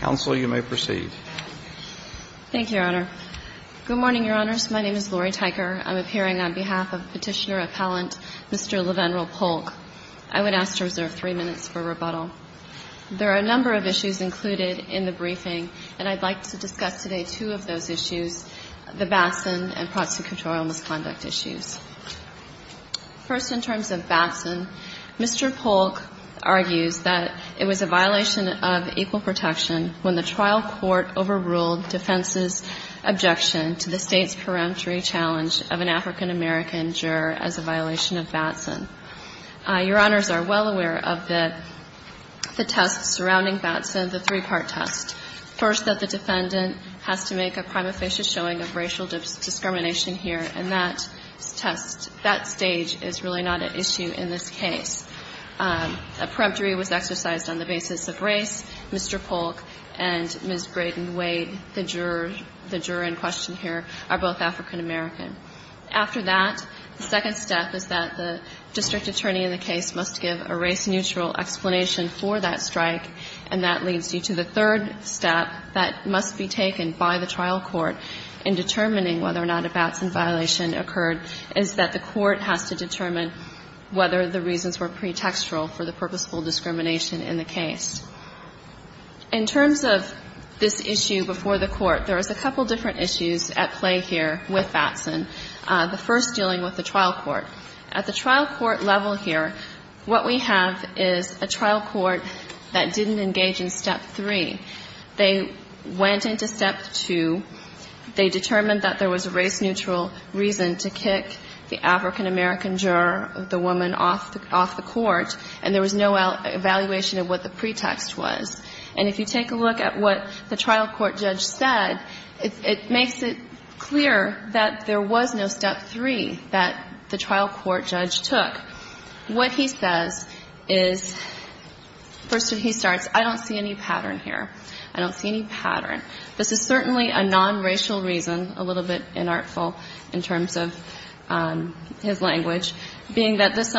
Counsel, you may proceed. Thank you, Your Honor. Good morning, Your Honors. My name is Lori Teicher. I'm appearing on behalf of Petitioner Appellant Mr. Levenrel Polk. I would ask to reserve three minutes for rebuttal. There are a number of issues included in the briefing, and I'd like to discuss today two of those issues, the Batson and prosecutorial misconduct issues. First, in terms of Batson, Mr. Polk argues that it was a violation of equal protection when the trial court overruled defense's objection to the State's peremptory challenge of an African-American juror as a violation of Batson. Your Honors are well aware of the test surrounding Batson, the three-part test. First, that the defendant has to make a prima facie showing of racial discrimination here, and that test, that stage is really not an issue in this case. A peremptory was exercised on the basis of race. Mr. Polk and Ms. Brayden Wade, the juror in question here, are both African-American. After that, the second step is that the district attorney in the case must give a race-neutral explanation for that strike, and that leads you to the third step that must be taken by the trial court in determining whether or not a Batson violation occurred, is that the court has to determine whether the reasons were pretextual for the purposeful discrimination in the case. In terms of this issue before the court, there is a couple different issues at play here with Batson. The first dealing with the trial court. At the trial court level here, what we have is a trial court that didn't engage in Step 3. They went into Step 2. They determined that there was a race-neutral reason to kick the African-American juror, the woman, off the court, and there was no evaluation of what the pretext was. And if you take a look at what the trial court judge said, it makes it clear that there was no Step 3 that the trial court judge took. What he says is, first he starts, I don't see any pattern here. I don't see any pattern. This is certainly a nonracial reason, a little bit inartful in terms of his language, being that this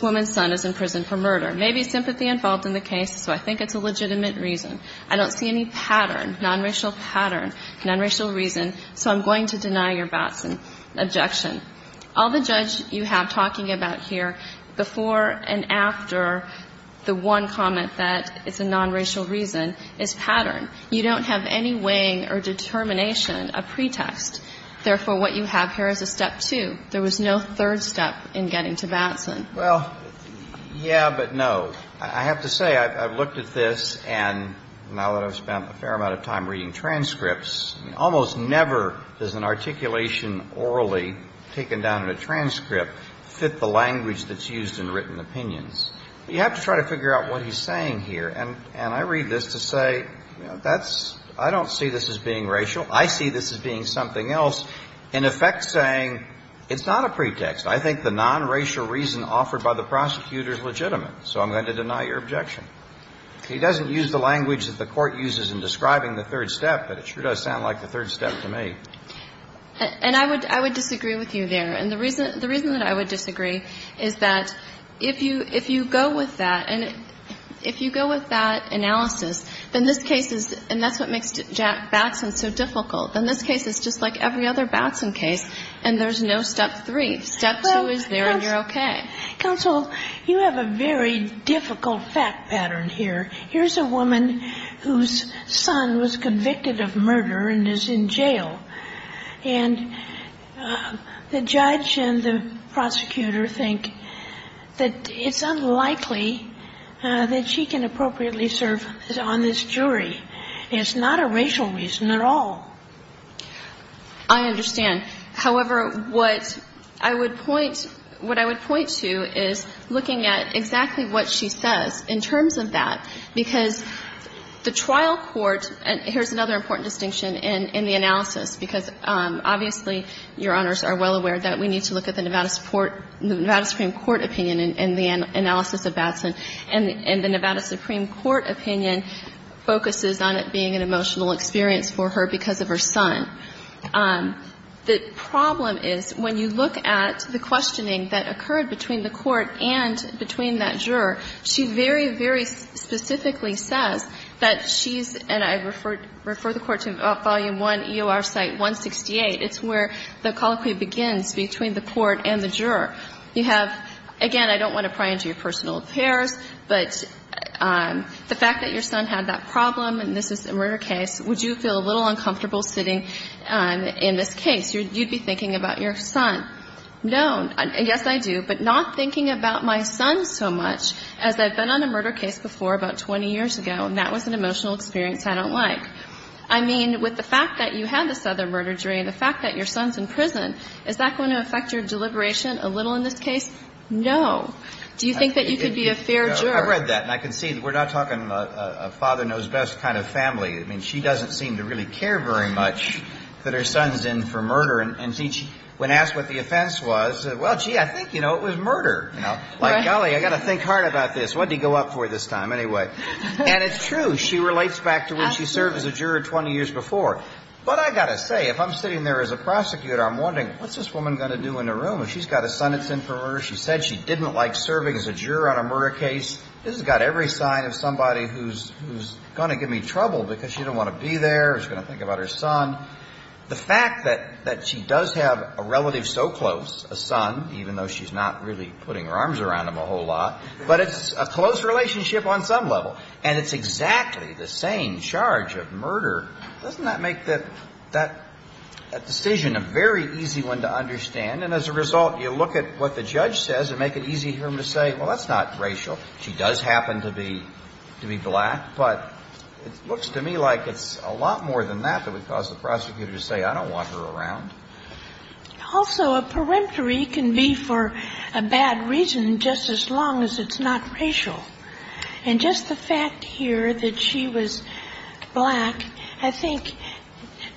woman's son is in prison for murder. Maybe sympathy involved in the case, so I think it's a legitimate reason. I don't see any pattern, nonracial pattern, nonracial reason. So I'm going to deny your Batson objection. All the judge you have talking about here before and after the one comment that it's a nonracial reason is pattern. You don't have any weighing or determination, a pretext. Therefore, what you have here is a Step 2. There was no third step in getting to Batson. Well, yeah, but no. I have to say I've looked at this, and now that I've spent a fair amount of time reading transcripts, almost never does an articulation orally taken down in a transcript fit the language that's used in written opinions. You have to try to figure out what he's saying here. And I read this to say, you know, I don't see this as being racial. I see this as being something else, in effect saying it's not a pretext. I think the nonracial reason offered by the prosecutor is legitimate, so I'm going to deny your objection. He doesn't use the language that the Court uses in describing the third step, but it sure does sound like the third step to me. And I would disagree with you there. And the reason that I would disagree is that if you go with that, and if you go with that analysis, then this case is, and that's what makes Batson so difficult, then this case is just like every other Batson case, and there's no Step 3. Step 2 is there, and you're okay. Counsel, you have a very difficult fact pattern here. Here's a woman whose son was convicted of murder and is in jail, and the judge and the prosecutor think that it's unlikely that she can appropriately serve on this jury. It's not a racial reason at all. I understand. However, what I would point, what I would point to is looking at exactly what she says in terms of that, because the trial court, and here's another important distinction in the analysis, because obviously, Your Honors are well aware that we need to look at the Nevada Supreme Court opinion in the analysis of Batson, and the emotional experience for her because of her son. The problem is when you look at the questioning that occurred between the court and between that juror, she very, very specifically says that she's, and I refer the Court to Volume 1, EOR Site 168. It's where the colloquy begins between the court and the juror. You have, again, I don't want to pry into your personal affairs, but the fact that your son had that problem and this is a murder case, would you feel a little uncomfortable sitting in this case? You'd be thinking about your son. No. Yes, I do. But not thinking about my son so much, as I've been on a murder case before about 20 years ago, and that was an emotional experience I don't like. I mean, with the fact that you had this other murder jury and the fact that your son's in prison, is that going to affect your deliberation a little in this case? No. Do you think that you could be a fair juror? I read that, and I can see that we're not talking about a father-knows-best kind of family. I mean, she doesn't seem to really care very much that her son's in for murder. And when asked what the offense was, well, gee, I think, you know, it was murder. You know? Like, golly, I've got to think hard about this. What did he go up for this time? Anyway. And it's true. She relates back to when she served as a juror 20 years before. But I've got to say, if I'm sitting there as a prosecutor, I'm wondering, what's this woman going to do in a room? She's got a son that's in for murder. She said she didn't like serving as a juror on a murder case. This has got every sign of somebody who's going to give me trouble because she doesn't want to be there. She's going to think about her son. The fact that she does have a relative so close, a son, even though she's not really putting her arms around him a whole lot, but it's a close relationship on some level. And it's exactly the same charge of murder. Doesn't that make that decision a very easy one to understand? And as a result, you look at what the judge says and make it easy for him to say, well, that's not racial. She does happen to be black. But it looks to me like it's a lot more than that that would cause the prosecutor to say, I don't want her around. Also, a peremptory can be for a bad reason just as long as it's not racial. And just the fact here that she was black, I think,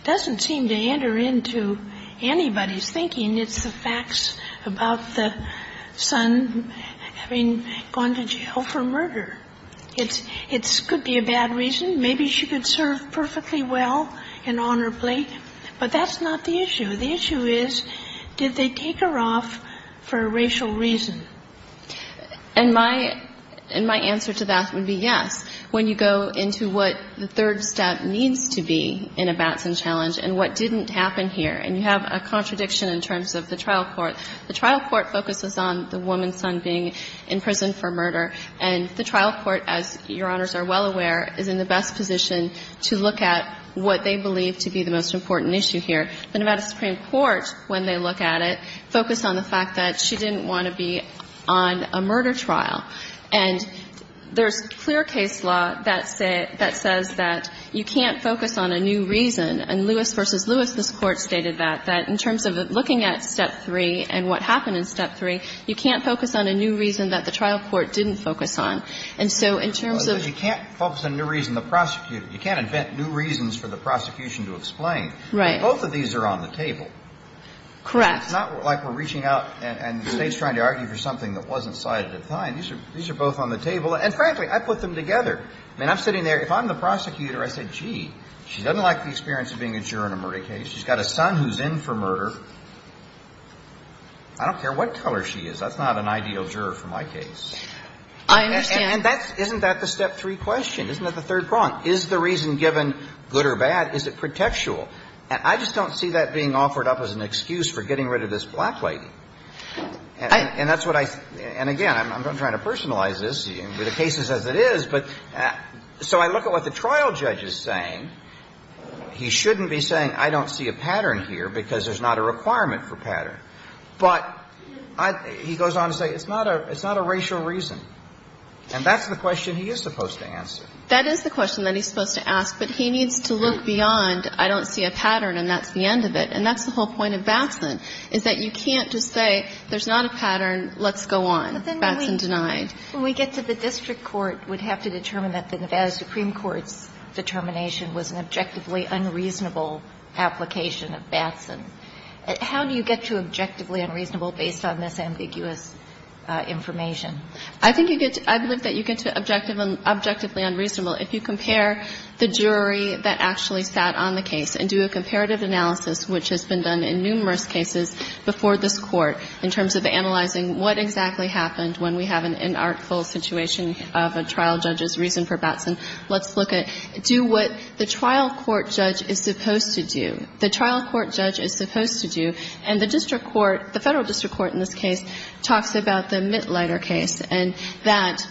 doesn't seem to enter into anybody's thinking. It's the facts about the son having gone to jail for murder. It could be a bad reason. Maybe she could serve perfectly well and honor plate. But that's not the issue. The issue is, did they take her off for a racial reason? And my answer to that would be yes. When you go into what the third step needs to be in a Batson challenge and what didn't happen here, and you have a contradiction in terms of the trial court. The trial court focuses on the woman's son being in prison for murder. And the trial court, as Your Honors are well aware, is in the best position to look at what they believe to be the most important issue here. The Nevada Supreme Court, when they look at it, focused on the fact that she didn't want to be on a murder trial. And there's clear case law that says that you can't focus on a new reason. And Lewis v. Lewis, this Court, stated that, that in terms of looking at step three and what happened in step three, you can't focus on a new reason that the trial court didn't focus on. And so in terms of you can't focus on a new reason, the prosecutor, you can't invent new reasons for the prosecution to explain. Right. Both of these are on the table. Correct. It's not like we're reaching out and the State's trying to argue for something that wasn't cited at the time. These are both on the table. And frankly, I put them together. I mean, I'm sitting there. If I'm the prosecutor, I say, gee, she doesn't like the experience of being a juror in a murder case. She's got a son who's in for murder. I don't care what color she is. That's not an ideal juror for my case. I understand. And that's – isn't that the step three question? Isn't that the third prong? Is the reason given good or bad? Is it pretextual? And I just don't see that being offered up as an excuse for getting rid of this black And that's what I – and again, I'm not trying to personalize this. I'm saying, I'm going to be clear to you. The case is as it is, but – so I look at what the trial judge is saying. He shouldn't be saying, I don't see a pattern here, because there's not a requirement for pattern. But I – he goes on to say, it's not a – it's not a racial reason. And that's the question he is supposed to answer. That is the question that he's supposed to ask, but he needs to look beyond, I don't see a pattern and that's the end of it. And that's the whole point of Batson, is that you can't just say, there's not a pattern. Let's go on. Batson denied. But then when we get to the district court, we'd have to determine that the Nevada Supreme Court's determination was an objectively unreasonable application of Batson. How do you get to objectively unreasonable based on this ambiguous information? I think you get to – I believe that you get to objectively unreasonable if you compare the jury that actually sat on the case and do a comparative analysis, which has been done in numerous cases before this Court, in terms of analyzing what exactly happened when we have an inartful situation of a trial judge's reason for Batson. Let's look at – do what the trial court judge is supposed to do. The trial court judge is supposed to do. And the district court, the Federal district court in this case, talks about the Mitlider case and that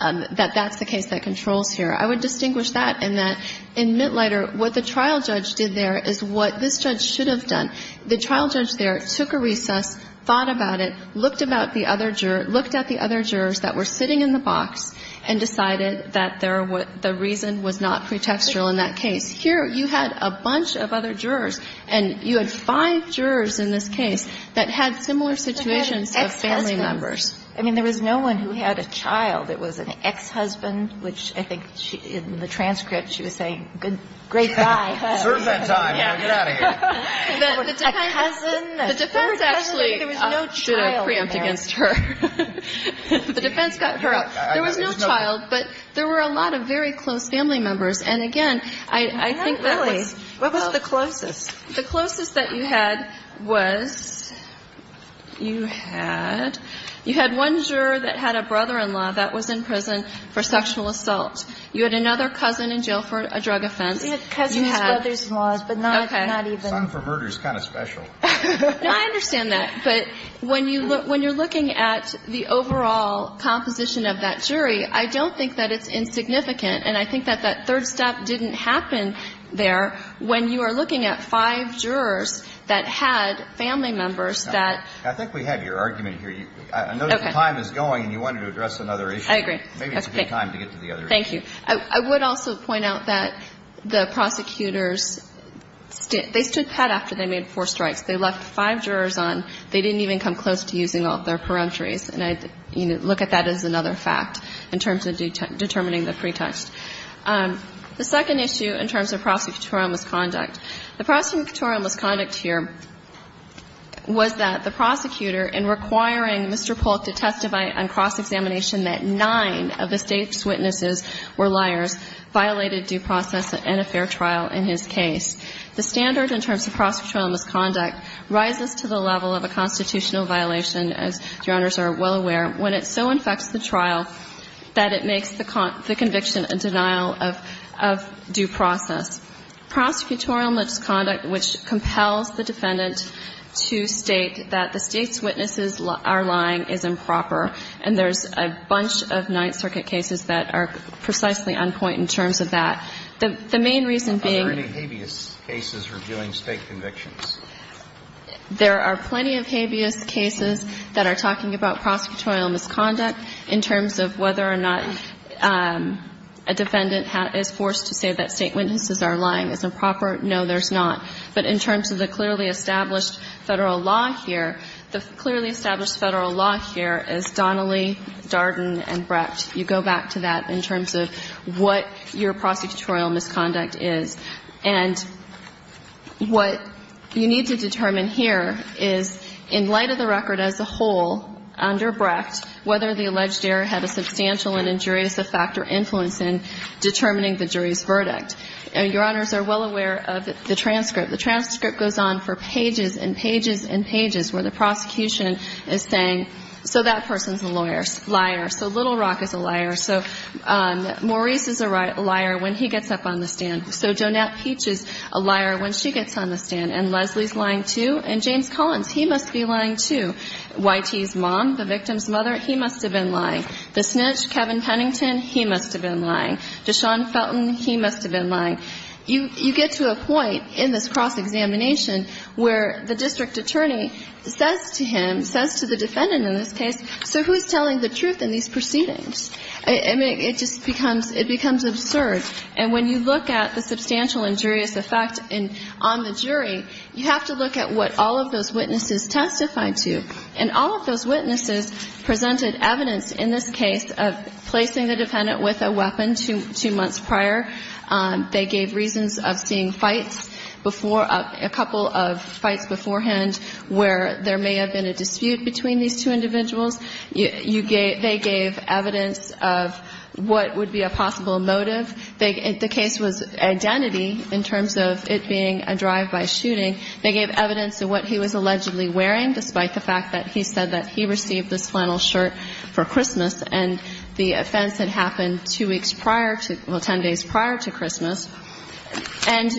that's the case that controls here. I would distinguish that in that in Mitlider, what the trial judge did there is what this judge should have done. The trial judge there took a recess, thought about it, looked about the other juror – looked at the other jurors that were sitting in the box and decided that there were – the reason was not pretextual in that case. Here, you had a bunch of other jurors, and you had five jurors in this case that had similar situations of family members. But they had ex-husbands. I mean, there was no one who had a child. It was an ex-husband, which I think in the transcript she was saying, good, great I don't deserve that time. Get out of here. The defense actually did a preempt against her. The defense got her out. There was no child, but there were a lot of very close family members. And, again, I think that was – What was the closest? The closest that you had was – you had one juror that had a brother-in-law that was in prison for sexual assault. You had another cousin in jail for a drug offense. You had cousins, brothers-in-law, but not even – Son for murder is kind of special. No, I understand that. But when you're looking at the overall composition of that jury, I don't think that it's insignificant, and I think that that third step didn't happen there when you are looking at five jurors that had family members that – I think we had your argument here. Okay. I know the time is going, and you wanted to address another issue. I agree. Maybe it's a good time to get to the other issue. Thank you. I would also point out that the prosecutors, they stood put after they made four strikes. They left five jurors on. They didn't even come close to using all of their peremptories, and I look at that as another fact in terms of determining the pretext. The second issue in terms of prosecutorial misconduct, the prosecutorial misconduct here was that the prosecutor, in requiring Mr. Polk to testify on cross witnesses, were liars, violated due process and a fair trial in his case. The standard in terms of prosecutorial misconduct rises to the level of a constitutional violation, as Your Honors are well aware, when it so infects the trial that it makes the conviction a denial of due process. Prosecutorial misconduct, which compels the defendant to state that the State's cases that are precisely on point in terms of that. The main reason being that there are plenty of habeas cases that are talking about prosecutorial misconduct in terms of whether or not a defendant is forced to say that State witnesses are lying. Is it proper? No, there's not. But in terms of the clearly established Federal law here, the clearly established Federal law here is Donnelly, Darden, and Brecht. You go back to that in terms of what your prosecutorial misconduct is. And what you need to determine here is, in light of the record as a whole under Brecht, whether the alleged error had a substantial and injurious effect or influence in determining the jury's verdict. Your Honors are well aware of the transcript. The transcript goes on for pages and pages and pages where the prosecution is saying, so that person's a lawyer, liar. So Little Rock is a liar. So Maurice is a liar when he gets up on the stand. So Jonette Peach is a liar when she gets on the stand. And Leslie's lying, too. And James Collins, he must be lying, too. Y.T.'s mom, the victim's mother, he must have been lying. The snitch, Kevin Pennington, he must have been lying. Deshaun Felton, he must have been lying. You get to a point in this cross-examination where the district attorney says to him, says to the defendant in this case, so who's telling the truth in these proceedings? I mean, it just becomes, it becomes absurd. And when you look at the substantial injurious effect on the jury, you have to look at what all of those witnesses testified to. And all of those witnesses presented evidence in this case of placing the defendant with a weapon two months prior. They gave reasons of seeing fights before, a couple of fights beforehand where there may have been a dispute between these two individuals. They gave evidence of what would be a possible motive. The case was identity in terms of it being a drive-by shooting. They gave evidence of what he was allegedly wearing, despite the fact that he said that he received this flannel shirt for Christmas. And the offense had happened two weeks prior to, well, 10 days prior to Christmas. And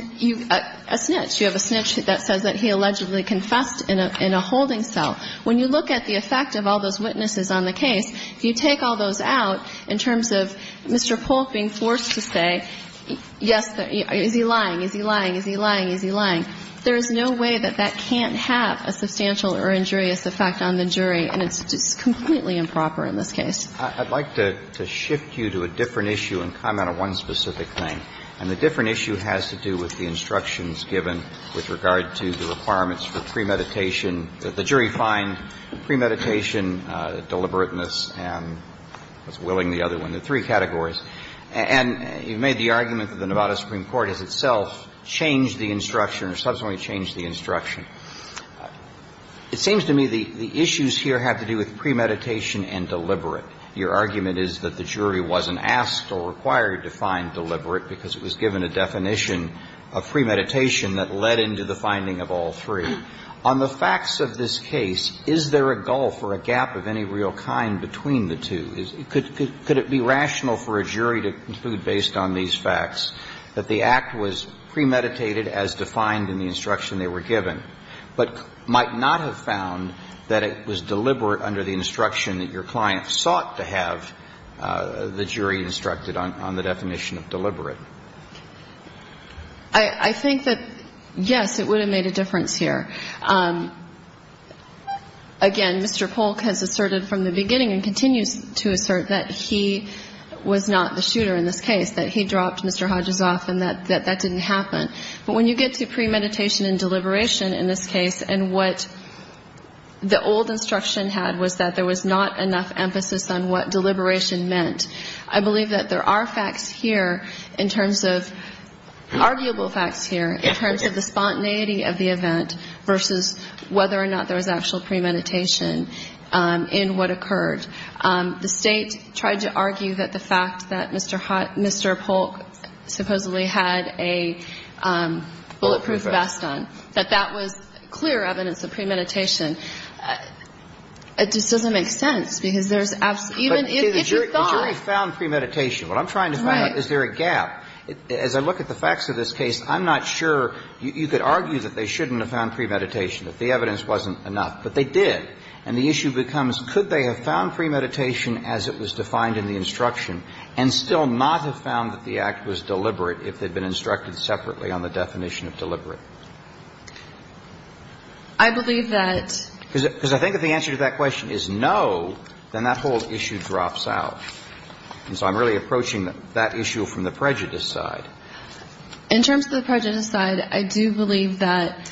a snitch. You have a snitch that says that he allegedly confessed in a holding cell. When you look at the effect of all those witnesses on the case, if you take all those out in terms of Mr. Polk being forced to say, yes, is he lying, is he lying, is he lying, is he lying, there is no way that that can't have a substantial or injurious effect on the jury. And it's just completely improper in this case. I'd like to shift you to a different issue and comment on one specific thing. And the different issue has to do with the instructions given with regard to the requirements for premeditation that the jury find premeditation, deliberateness, and what's willing the other one, the three categories. And you made the argument that the Nevada Supreme Court has itself changed the instruction or subsequently changed the instruction. It seems to me the issues here have to do with premeditation and deliberate. Your argument is that the jury wasn't asked or required to find deliberate because it was given a definition of premeditation that led into the finding of all three. On the facts of this case, is there a gulf or a gap of any real kind between the two? Could it be rational for a jury to conclude based on these facts that the act was premeditated as defined in the instruction they were given? But might not have found that it was deliberate under the instruction that your client sought to have the jury instructed on the definition of deliberate? I think that, yes, it would have made a difference here. Again, Mr. Polk has asserted from the beginning and continues to assert that he was not the shooter in this case, that he dropped Mr. Hodges off and that that didn't happen. But when you get to premeditation and deliberation in this case and what the old instruction had was that there was not enough emphasis on what deliberation meant, I believe that there are facts here in terms of arguable facts here in terms of the spontaneity of the event versus whether or not there was actual premeditation in what occurred. The State tried to argue that the fact that Mr. Hodges – Mr. Polk supposedly had a bulletproof vest on, that that was clear evidence of premeditation. It just doesn't make sense because there's – even if you thought – But the jury found premeditation. What I'm trying to find out is there a gap. As I look at the facts of this case, I'm not sure you could argue that they shouldn't have found premeditation, that the evidence wasn't enough. But they did. And the issue becomes, could they have found premeditation as it was defined in the instruction and still not have found that the act was deliberate if they'd been instructed separately on the definition of deliberate? I believe that – Because I think if the answer to that question is no, then that whole issue drops out. And so I'm really approaching that issue from the prejudice side. In terms of the prejudice side, I do believe that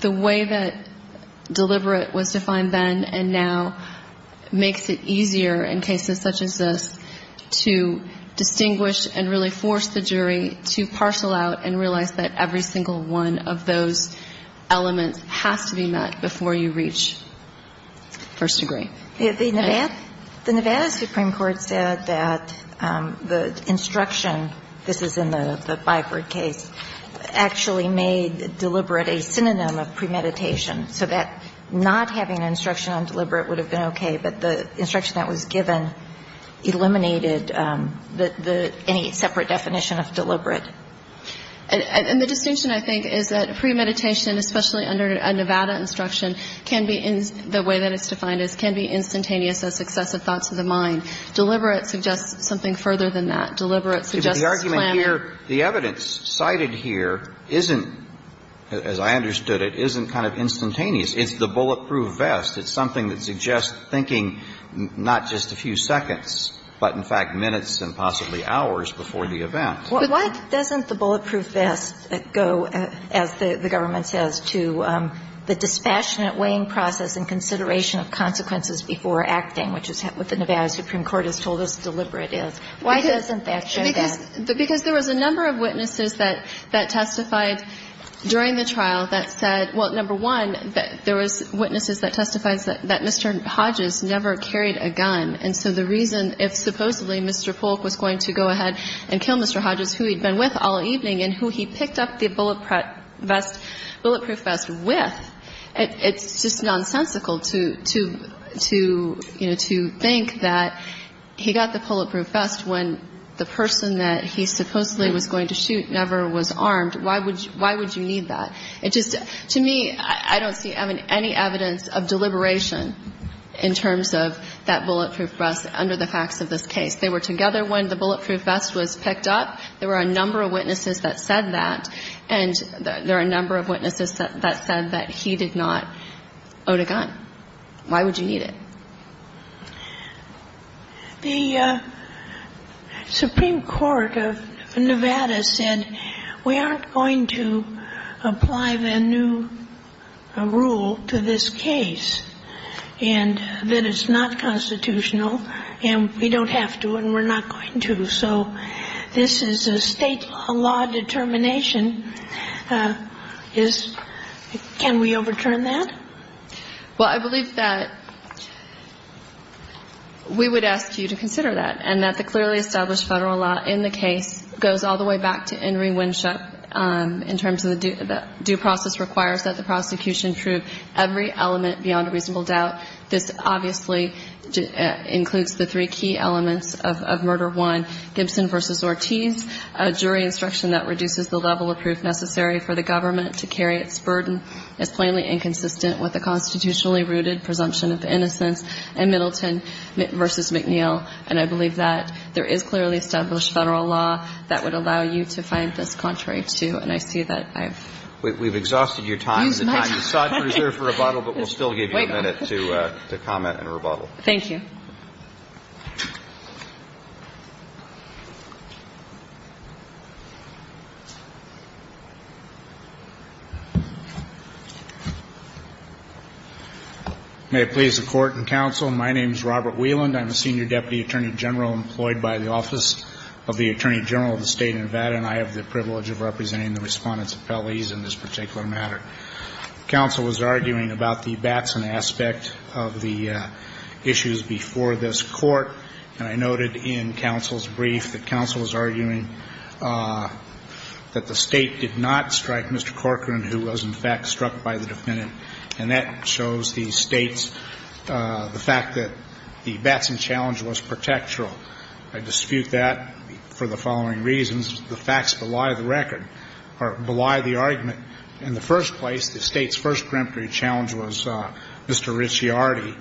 the way that deliberate was defined then and now makes it easier in cases such as this to distinguish and really force the jury to parcel out and realize that every single one of those elements has to be met before you reach first degree. The Nevada Supreme Court said that the instruction, this is in the Byford case, actually made deliberate a synonym of premeditation, so that not having an instruction on deliberate would have been okay, but the instruction that was given eliminated any separate definition of deliberate. And the distinction, I think, is that premeditation, especially under a Nevada instruction, can be – the way that it's defined is can be instantaneous as successive thoughts of the mind. Deliberate suggests something further than that. Deliberate suggests planning. But the argument here, the evidence cited here isn't, as I understood it, isn't kind of instantaneous. It's the bulletproof vest. It's something that suggests thinking not just a few seconds, but in fact minutes and possibly hours before the event. But why doesn't the bulletproof vest go, as the government says, to the dispassionate weighing process and consideration of consequences before acting, which is what the Nevada Supreme Court has told us deliberate is? Why doesn't that show that? Because there was a number of witnesses that testified during the trial that said – well, number one, there was witnesses that testified that Mr. Hodges never carried a gun. And so the reason if supposedly Mr. Polk was going to go ahead and kill Mr. Hodges, who he'd been with all evening and who he picked up the bulletproof vest with, it's just nonsensical to think that he got the bulletproof vest when the person that he supposedly was going to shoot never was armed. Why would you need that? It just – to me, I don't see any evidence of deliberation in terms of that bulletproof vest under the facts of this case. They were together when the bulletproof vest was picked up. There were a number of witnesses that said that. And there are a number of witnesses that said that he did not own a gun. Why would you need it? The Supreme Court of Nevada said we aren't going to apply the new rule to this case and that it's not constitutional and we don't have to and we're not going to. So this is a state law determination. Can we overturn that? Well, I believe that we would ask you to consider that and that the clearly established federal law in the case goes all the way back to Henry Winship in terms of the due process requires that the prosecution prove every element beyond a reasonable doubt. This obviously includes the three key elements of murder one, Gibson v. Ortiz, a jury instruction that reduces the level of proof necessary for the prosecution. And I believe that there is clearly established federal law that would allow you to find this contrary to. And I see that I've used my time. We've exhausted your time. The time is sought to reserve for rebuttal, but we'll still give you a minute to comment Thank you. Thank you. Thank you. Thank you. Thank you. Thank you. May it please the Court and counsel, my name is Robert Wieland. I'm a senior deputy attorney general employed by the office of the attorney general of the state of Nevada and I have the privilege of representing the Respondents Appellees in this particular matter. Counsel was arguing about the Batson aspect of the issues before this court and I noted in counsel's brief that counsel was arguing that the state did not strike Mr. Corcoran who was in fact struck by the defendant and that shows the state's, the fact that the Batson challenge was protectoral. I dispute that for the following reasons. The facts belie the record, or belie the argument. In the first place, the state's first preemptory challenge was Mr. Ricciardi.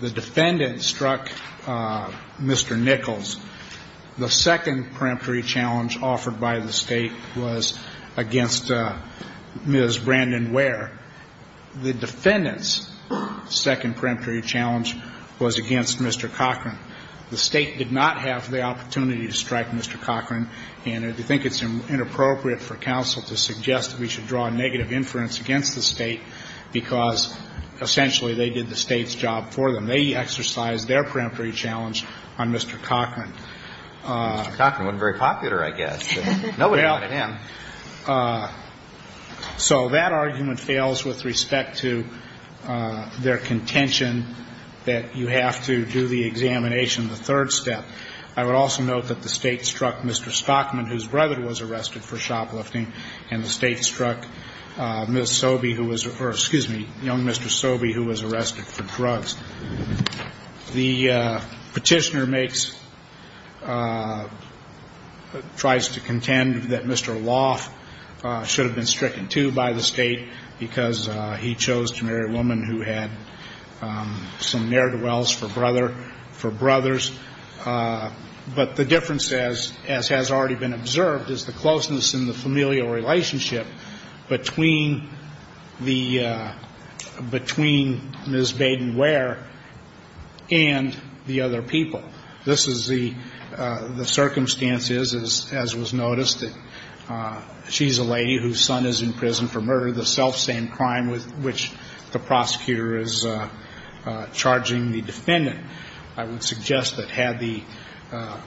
The defendant struck Mr. Nichols. The second preemptory challenge offered by the state was against Ms. Batson. As Brandon Ware, the defendant's second preemptory challenge was against Mr. Corcoran. The state did not have the opportunity to strike Mr. Corcoran and I think it's inappropriate for counsel to suggest that we should draw a negative inference against the state because essentially they did the state's job for them. They exercised their preemptory challenge on Mr. Corcoran. Mr. Corcoran wasn't very popular, I guess. Nobody wanted him. So that argument fails with respect to their contention that you have to do the examination, the third step. I would also note that the state struck Mr. Stockman, whose brother was arrested for shoplifting, and the state struck Ms. Sobey who was, or excuse me, young Mr. Sobey who was arrested for drugs. The Petitioner makes, tries to contend that Mr. Lawson, the defendant's brother, should have been stricken too by the state because he chose to marry a woman who had some ne'er-do-wells for brothers. But the difference, as has already been observed, is the closeness in the familial relationship between the, between Ms. Baden Ware and the other people. This is the circumstances, as was noticed, that she's a lady whose son is in prison for murder, the selfsame crime with which the prosecutor is charging the defendant. I would suggest that had the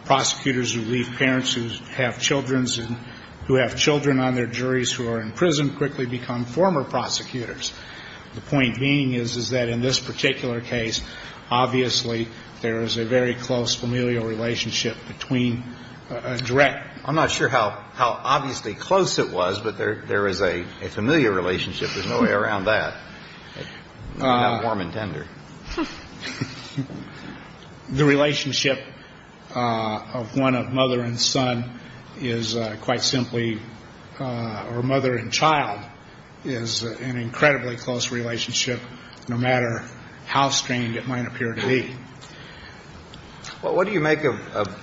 prosecutors who leave parents who have children on their juries who are in prison quickly become former prosecutors. The point being is, is that in this particular case, obviously there is a very close familial relationship between a direct. I'm not sure how obviously close it was, but there is a familial relationship. There's no way around that. Warm and tender. The relationship of one of mother and son is quite simply, or mother and child, is an incredibly close relationship, no matter how strained it might appear to be. Well, what do you make of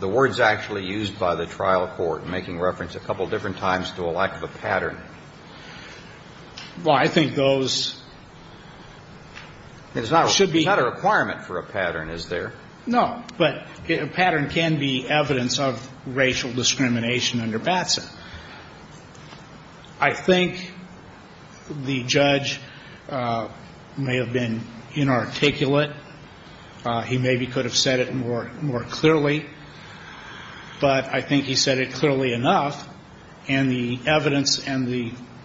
the words actually used by the trial court, making reference a couple different times to a lack of a pattern? Well, I think those should be. It's not a requirement for a pattern, is there? No. But a pattern can be evidence of racial discrimination under Batson. I think the judge may have been inarticulate. He maybe could have said it more clearly, but I think he said it clearly enough, and the evidence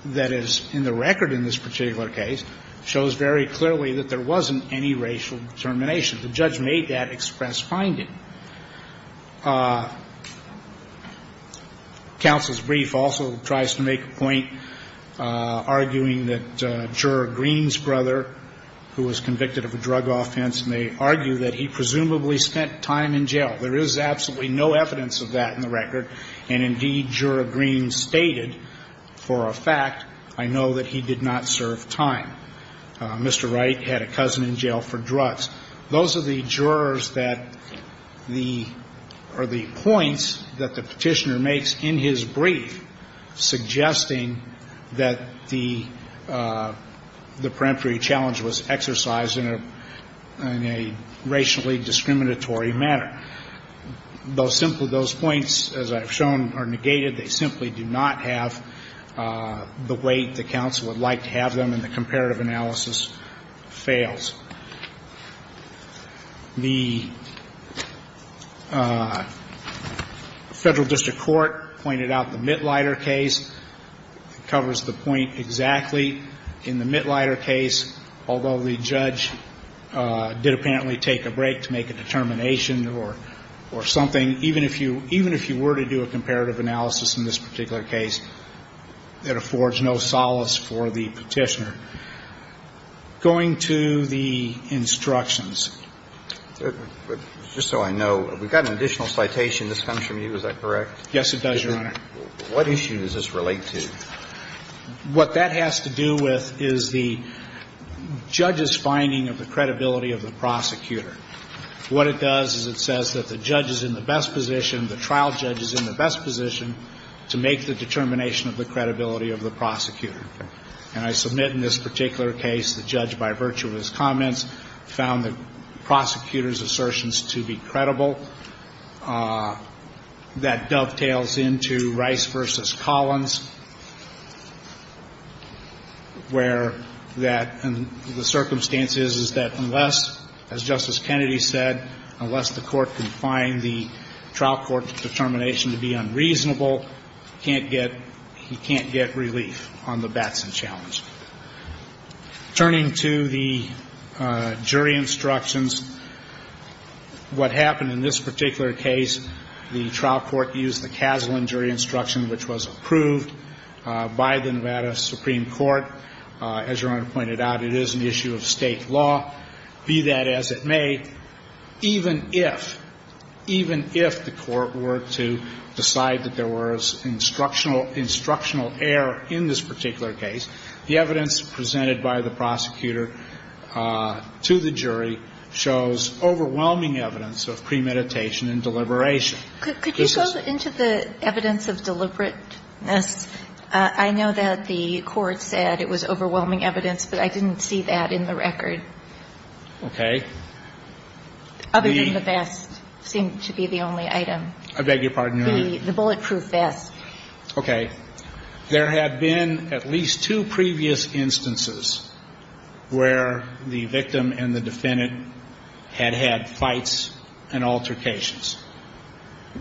that is in the record in this particular case shows very clearly that there wasn't any racial determination. The judge made that express finding. Counsel's brief also tries to make a point arguing that Juror Green's brother, who was convicted of a drug offense, may argue that he presumably spent time in jail. There is absolutely no evidence of that in the record, and indeed, Juror Green stated, for a fact, I know that he did not serve time. Mr. Wright had a cousin in jail for drugs. Those are the jurors that the or the points that the Petitioner makes in his brief suggesting that the peremptory challenge was exercised in a racially discriminatory manner. Those points, as I've shown, are negated. They simply do not have the weight the counsel would like to have them, and the comparative analysis fails. The Federal District Court pointed out the Mitlider case. It covers the point exactly. In the Mitlider case, although the judge did apparently take a break to make a determination or something, even if you were to do a comparative analysis in this particular case, it affords no solace for the Petitioner. Going to the instructions. Just so I know, we've got an additional citation that's come from you. Is that correct? Yes, it does, Your Honor. What issue does this relate to? What that has to do with is the judge's finding of the credibility of the prosecutor. What it does is it says that the judge is in the best position, the trial judge is in the best position, to make the determination of the credibility of the prosecutor. And I submit in this particular case the judge, by virtue of his comments, found the prosecutor's assertions to be credible. That dovetails into Rice v. Collins, where that the circumstances is that unless, as Justice Kennedy said, unless the court can find the trial court's determination to be unreasonable, can't get, he can't get relief on the Batson challenge. Turning to the jury instructions. What happened in this particular case, the trial court used the Kaslan jury instruction, which was approved by the Nevada Supreme Court. As Your Honor pointed out, it is an issue of State law, be that as it may. Even if, even if the court were to decide that there was instructional error in this particular case, the evidence presented by the prosecutor to the jury shows overwhelming evidence of premeditation and deliberation. Could you go into the evidence of deliberateness? I know that the court said it was overwhelming evidence, but I didn't see that in the Okay. Other than the vest seemed to be the only item. I beg your pardon, Your Honor. The bulletproof vest. Okay. There had been at least two previous instances where the victim and the defendant had had fights and altercations.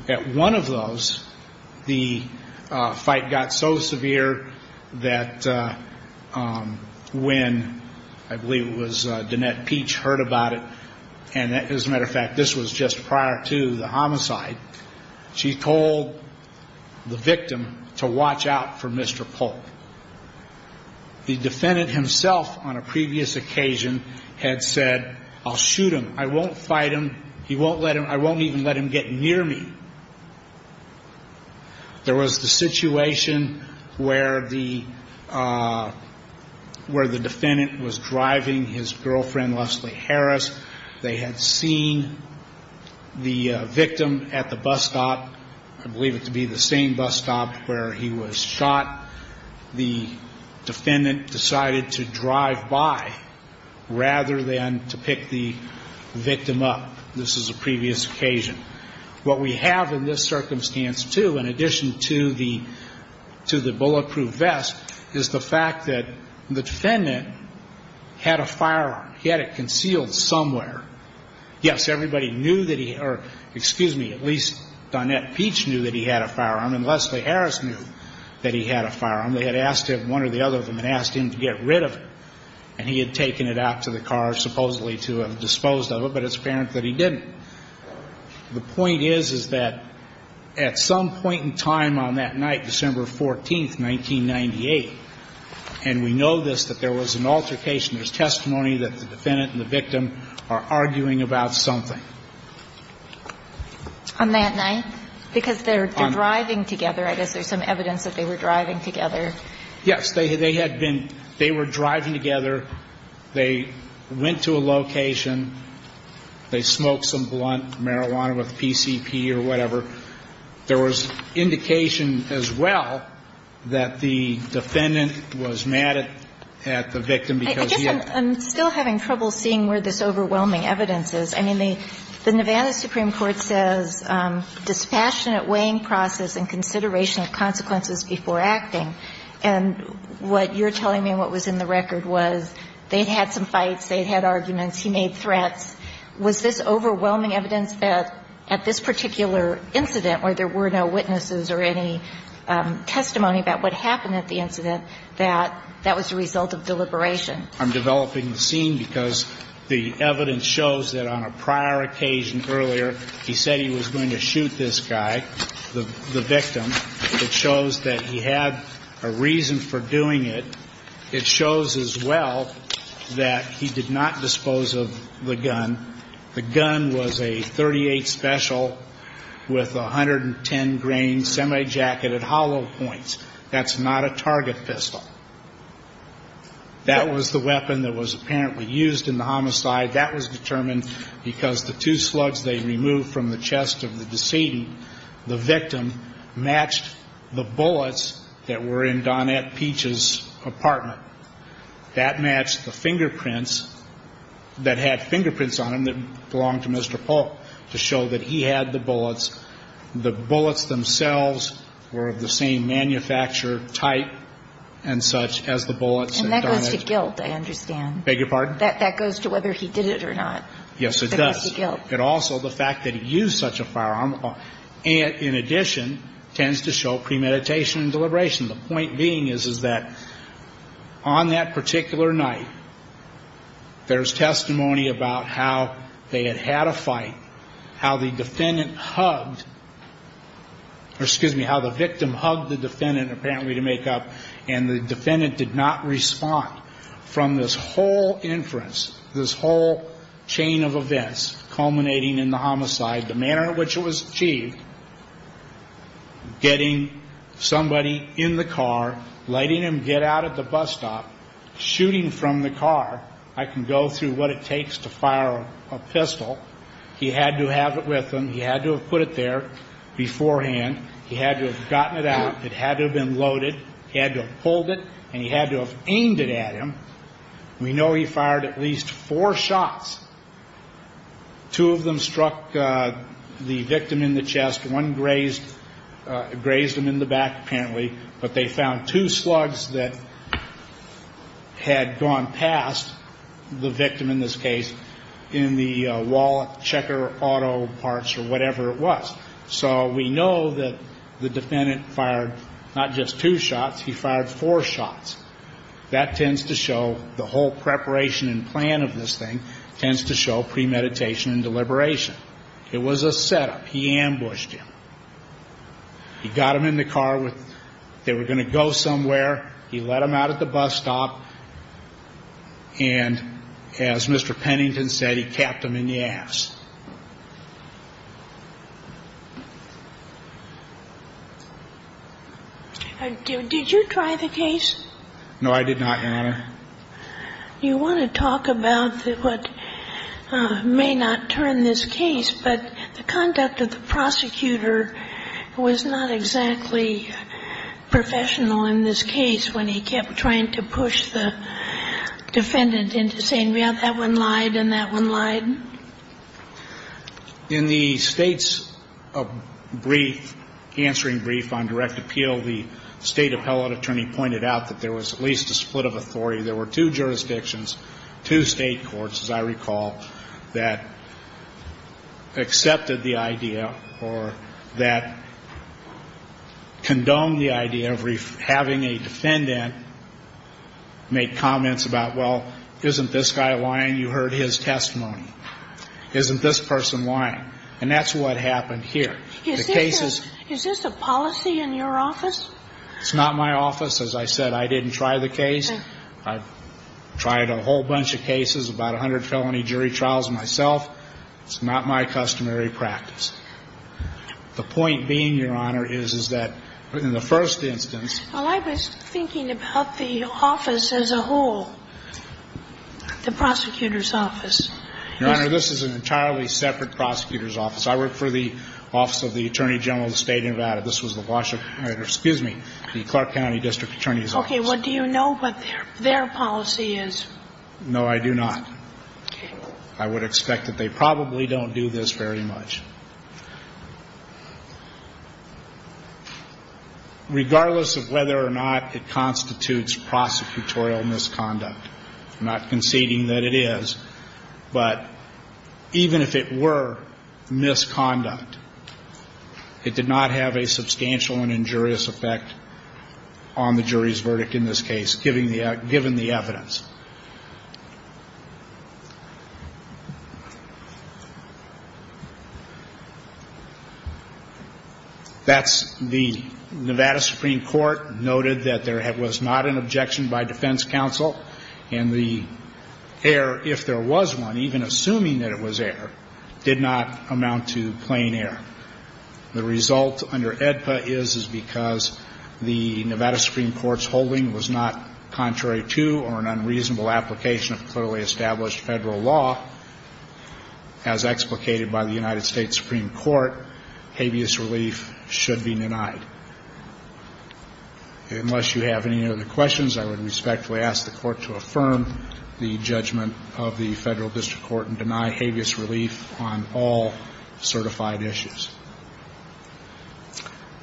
At one of those, the fight got so severe that when, I believe it was Danette Peach heard about it, and as a matter of fact, this was just prior to the homicide, she told the victim to watch out for Mr. Polk. The defendant himself on a previous occasion had said, I'll shoot him. I won't fight him. He won't let him, I won't even let him get near me. There was the situation where the defendant was driving his girlfriend, Leslie Harris. They had seen the victim at the bus stop, I believe it to be the same bus stop where he was shot. The defendant decided to drive by rather than to pick the victim up. This is a previous occasion. What we have in this circumstance, too, in addition to the bulletproof vest, is the fact that the defendant had a firearm. He had it concealed somewhere. Yes, everybody knew that he or, excuse me, at least Danette Peach knew that he had a firearm and Leslie Harris knew that he had a firearm. They had asked him, one or the other of them, had asked him to get rid of it. And he had taken it out to the car supposedly to have disposed of it, but it's apparent that he didn't. The point is, is that at some point in time on that night, December 14th, 1998, and we know this, that there was an altercation. There's testimony that the defendant and the victim are arguing about something. On that night? Because they're driving together. I guess there's some evidence that they were driving together. Yes. They had been, they were driving together. They went to a location. They smoked some blunt marijuana with PCP or whatever. There was indication as well that the defendant was mad at the victim because he had I guess I'm still having trouble seeing where this overwhelming evidence is. I mean, the Nevada Supreme Court says dispassionate weighing process and consideration of consequences before acting. And what you're telling me and what was in the record was they'd had some fights, they'd had arguments. He made threats. Was this overwhelming evidence that at this particular incident where there were no witnesses or any testimony about what happened at the incident, that that was a result of deliberation? I'm developing the scene because the evidence shows that on a prior occasion earlier, he said he was going to shoot this guy, the victim. It shows that he had a reason for doing it. It shows as well that he did not dispose of the gun. The gun was a .38 special with 110 grain semi-jacketed hollow points. That's not a target pistol. That was the weapon that was apparently used in the homicide. That was determined because the two slugs they removed from the chest of the decedent, the victim, matched the bullets that were in Donette Peach's apartment. That matched the fingerprints that had fingerprints on them that belonged to Mr. Polk to show that he had the bullets. The bullets themselves were of the same manufacturer type and such as the bullets that Donette Peach had. And that goes to guilt, I understand. Beg your pardon? Yes, it does. That goes to guilt. It also, the fact that he used such a firearm, in addition, tends to show premeditation and deliberation. The point being is that on that particular night, there's testimony about how they had had a fight, how the defendant hugged, or excuse me, how the victim hugged the defendant, apparently to make up, and the defendant did not respond. From this whole inference, this whole chain of events culminating in the homicide, the manner in which it was achieved, getting somebody in the car, letting him get out at the bus stop, shooting from the car. I can go through what it takes to fire a pistol. He had to have it with him. He had to have put it there beforehand. He had to have gotten it out. It had to have been loaded. He had to have pulled it, and he had to have aimed it at him. We know he fired at least four shots. Two of them struck the victim in the chest. One grazed him in the back, apparently. But they found two slugs that had gone past the victim in this case in the wallet, checker, auto parts, or whatever it was. So we know that the defendant fired not just two shots, he fired four shots. That tends to show, the whole preparation and plan of this thing tends to show premeditation and deliberation. It was a setup. He ambushed him. He got him in the car. They were going to go somewhere. He let him out at the bus stop, and as Mr. Pennington said, he capped him in the ass. Did you try the case? No, I did not, Your Honor. You want to talk about what may not turn this case, but the conduct of the prosecutor was not exactly professional in this case when he kept trying to push the defendant into saying, well, that one lied and that one lied. In the State's brief, answering brief on direct appeal, the State appellate attorney pointed out that there was at least a split of authority. There were two jurisdictions, two State courts, as I recall, that accepted the idea or that condoned the idea of having a defendant make comments about, well, isn't this guy lying? You heard his testimony. Isn't this person lying? And that's what happened here. Is this a policy in your office? It's not my office. As I said, I didn't try the case. I tried a whole bunch of cases, about 100 felony jury trials myself. It's not my customary practice. The point being, Your Honor, is, is that in the first instance. Well, I was thinking about the office as a whole, the prosecutor's office. Your Honor, this is an entirely separate prosecutor's office. I work for the Office of the Attorney General of the State of Nevada. This was the Washington, excuse me, the Clark County District Attorney's Office. Okay. Well, do you know what their policy is? No, I do not. Okay. I would expect that they probably don't do this very much. Regardless of whether or not it constitutes prosecutorial misconduct, I'm not conceding that it is, but even if it were misconduct, it did not have a substantial and injurious effect on the jury's verdict in this case, given the evidence. That's the Nevada Supreme Court noted that there was not an objection by defense counsel, and the error, if there was one, even assuming that it was error, did not amount to plain error. The result under AEDPA is, is because the Nevada Supreme Court's holding was not contrary to or an unreasonable application of clearly established Federal law, as explicated by the United States Supreme Court, habeas relief should be denied. Unless you have any other questions, I would respectfully ask the Court to affirm the judgment of the Federal District Court and deny habeas relief on all certified issues.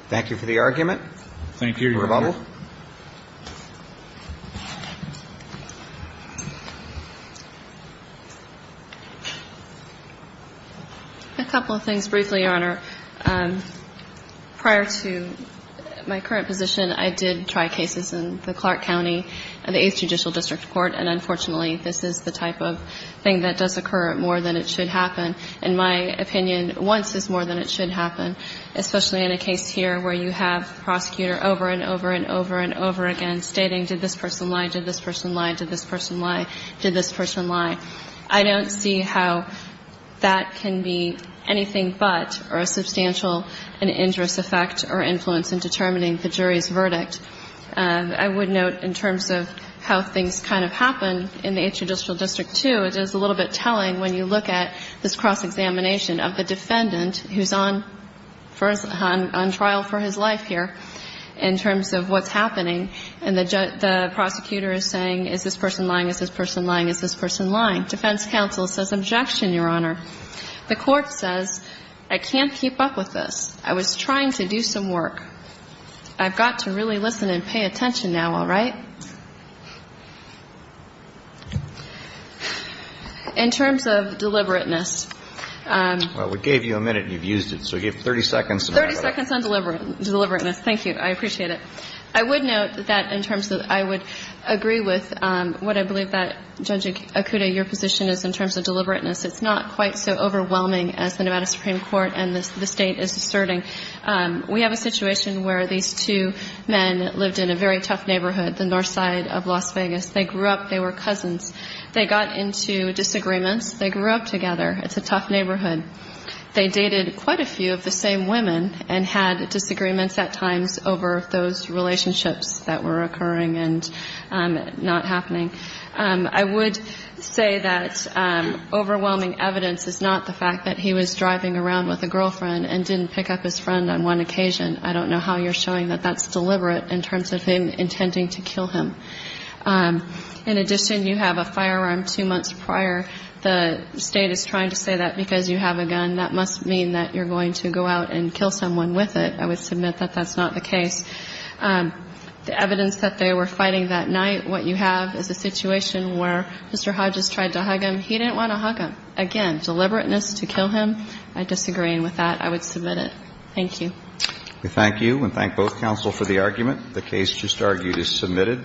Thank you for the argument. Thank you, Your Honor. Rebuttal. A couple of things briefly, Your Honor. Prior to my current position, I did try cases in the Clark County, the Eighth Judicial District Court, and unfortunately, this is the type of thing that does occur more than it should happen. In my opinion, once is more than it should happen, especially in a case here where you have the prosecutor over and over and over and over again stating, did this person lie, did this person lie, did this person lie, did this person lie. I don't see how that can be anything but or a substantial and injurious effect or influence in determining the jury's verdict. I would note in terms of how things kind of happen in the Eighth Judicial District too, it is a little bit telling when you look at this cross-examination of the defendant who's on trial for his life here in terms of what's happening, and the prosecutor is saying, is this person lying, is this person lying, is this person lying. Defense counsel says, objection, Your Honor. The court says, I can't keep up with this. I was trying to do some work. I've got to really listen and pay attention now, all right? In terms of deliberateness. Well, we gave you a minute and you've used it, so you have 30 seconds. 30 seconds on deliberateness. Thank you. I appreciate it. I would note that in terms of I would agree with what I believe that, Judge Okuda, your position is in terms of deliberateness. It's not quite so overwhelming as the Nevada Supreme Court and the State is asserting. We have a situation where these two men lived in a very tough neighborhood, the north side of Las Vegas. They grew up. They were cousins. They got into disagreements. They grew up together. It's a tough neighborhood. They dated quite a few of the same women and had disagreements at times over those relationships that were occurring and not happening. I would say that overwhelming evidence is not the fact that he was driving around with a girlfriend and didn't pick up his friend on one occasion. I don't know how you're showing that that's deliberate in terms of him intending to kill him. In addition, you have a firearm two months prior. The State is trying to say that because you have a gun, that must mean that you're going to go out and kill someone with it. I would submit that that's not the case. The evidence that they were fighting that night, what you have is a situation where Mr. Hodges tried to hug him. He didn't want to hug him. Again, deliberateness to kill him, I disagree with that. I would submit it. Thank you. We thank you and thank both counsel for the argument. The case just argued is submitted.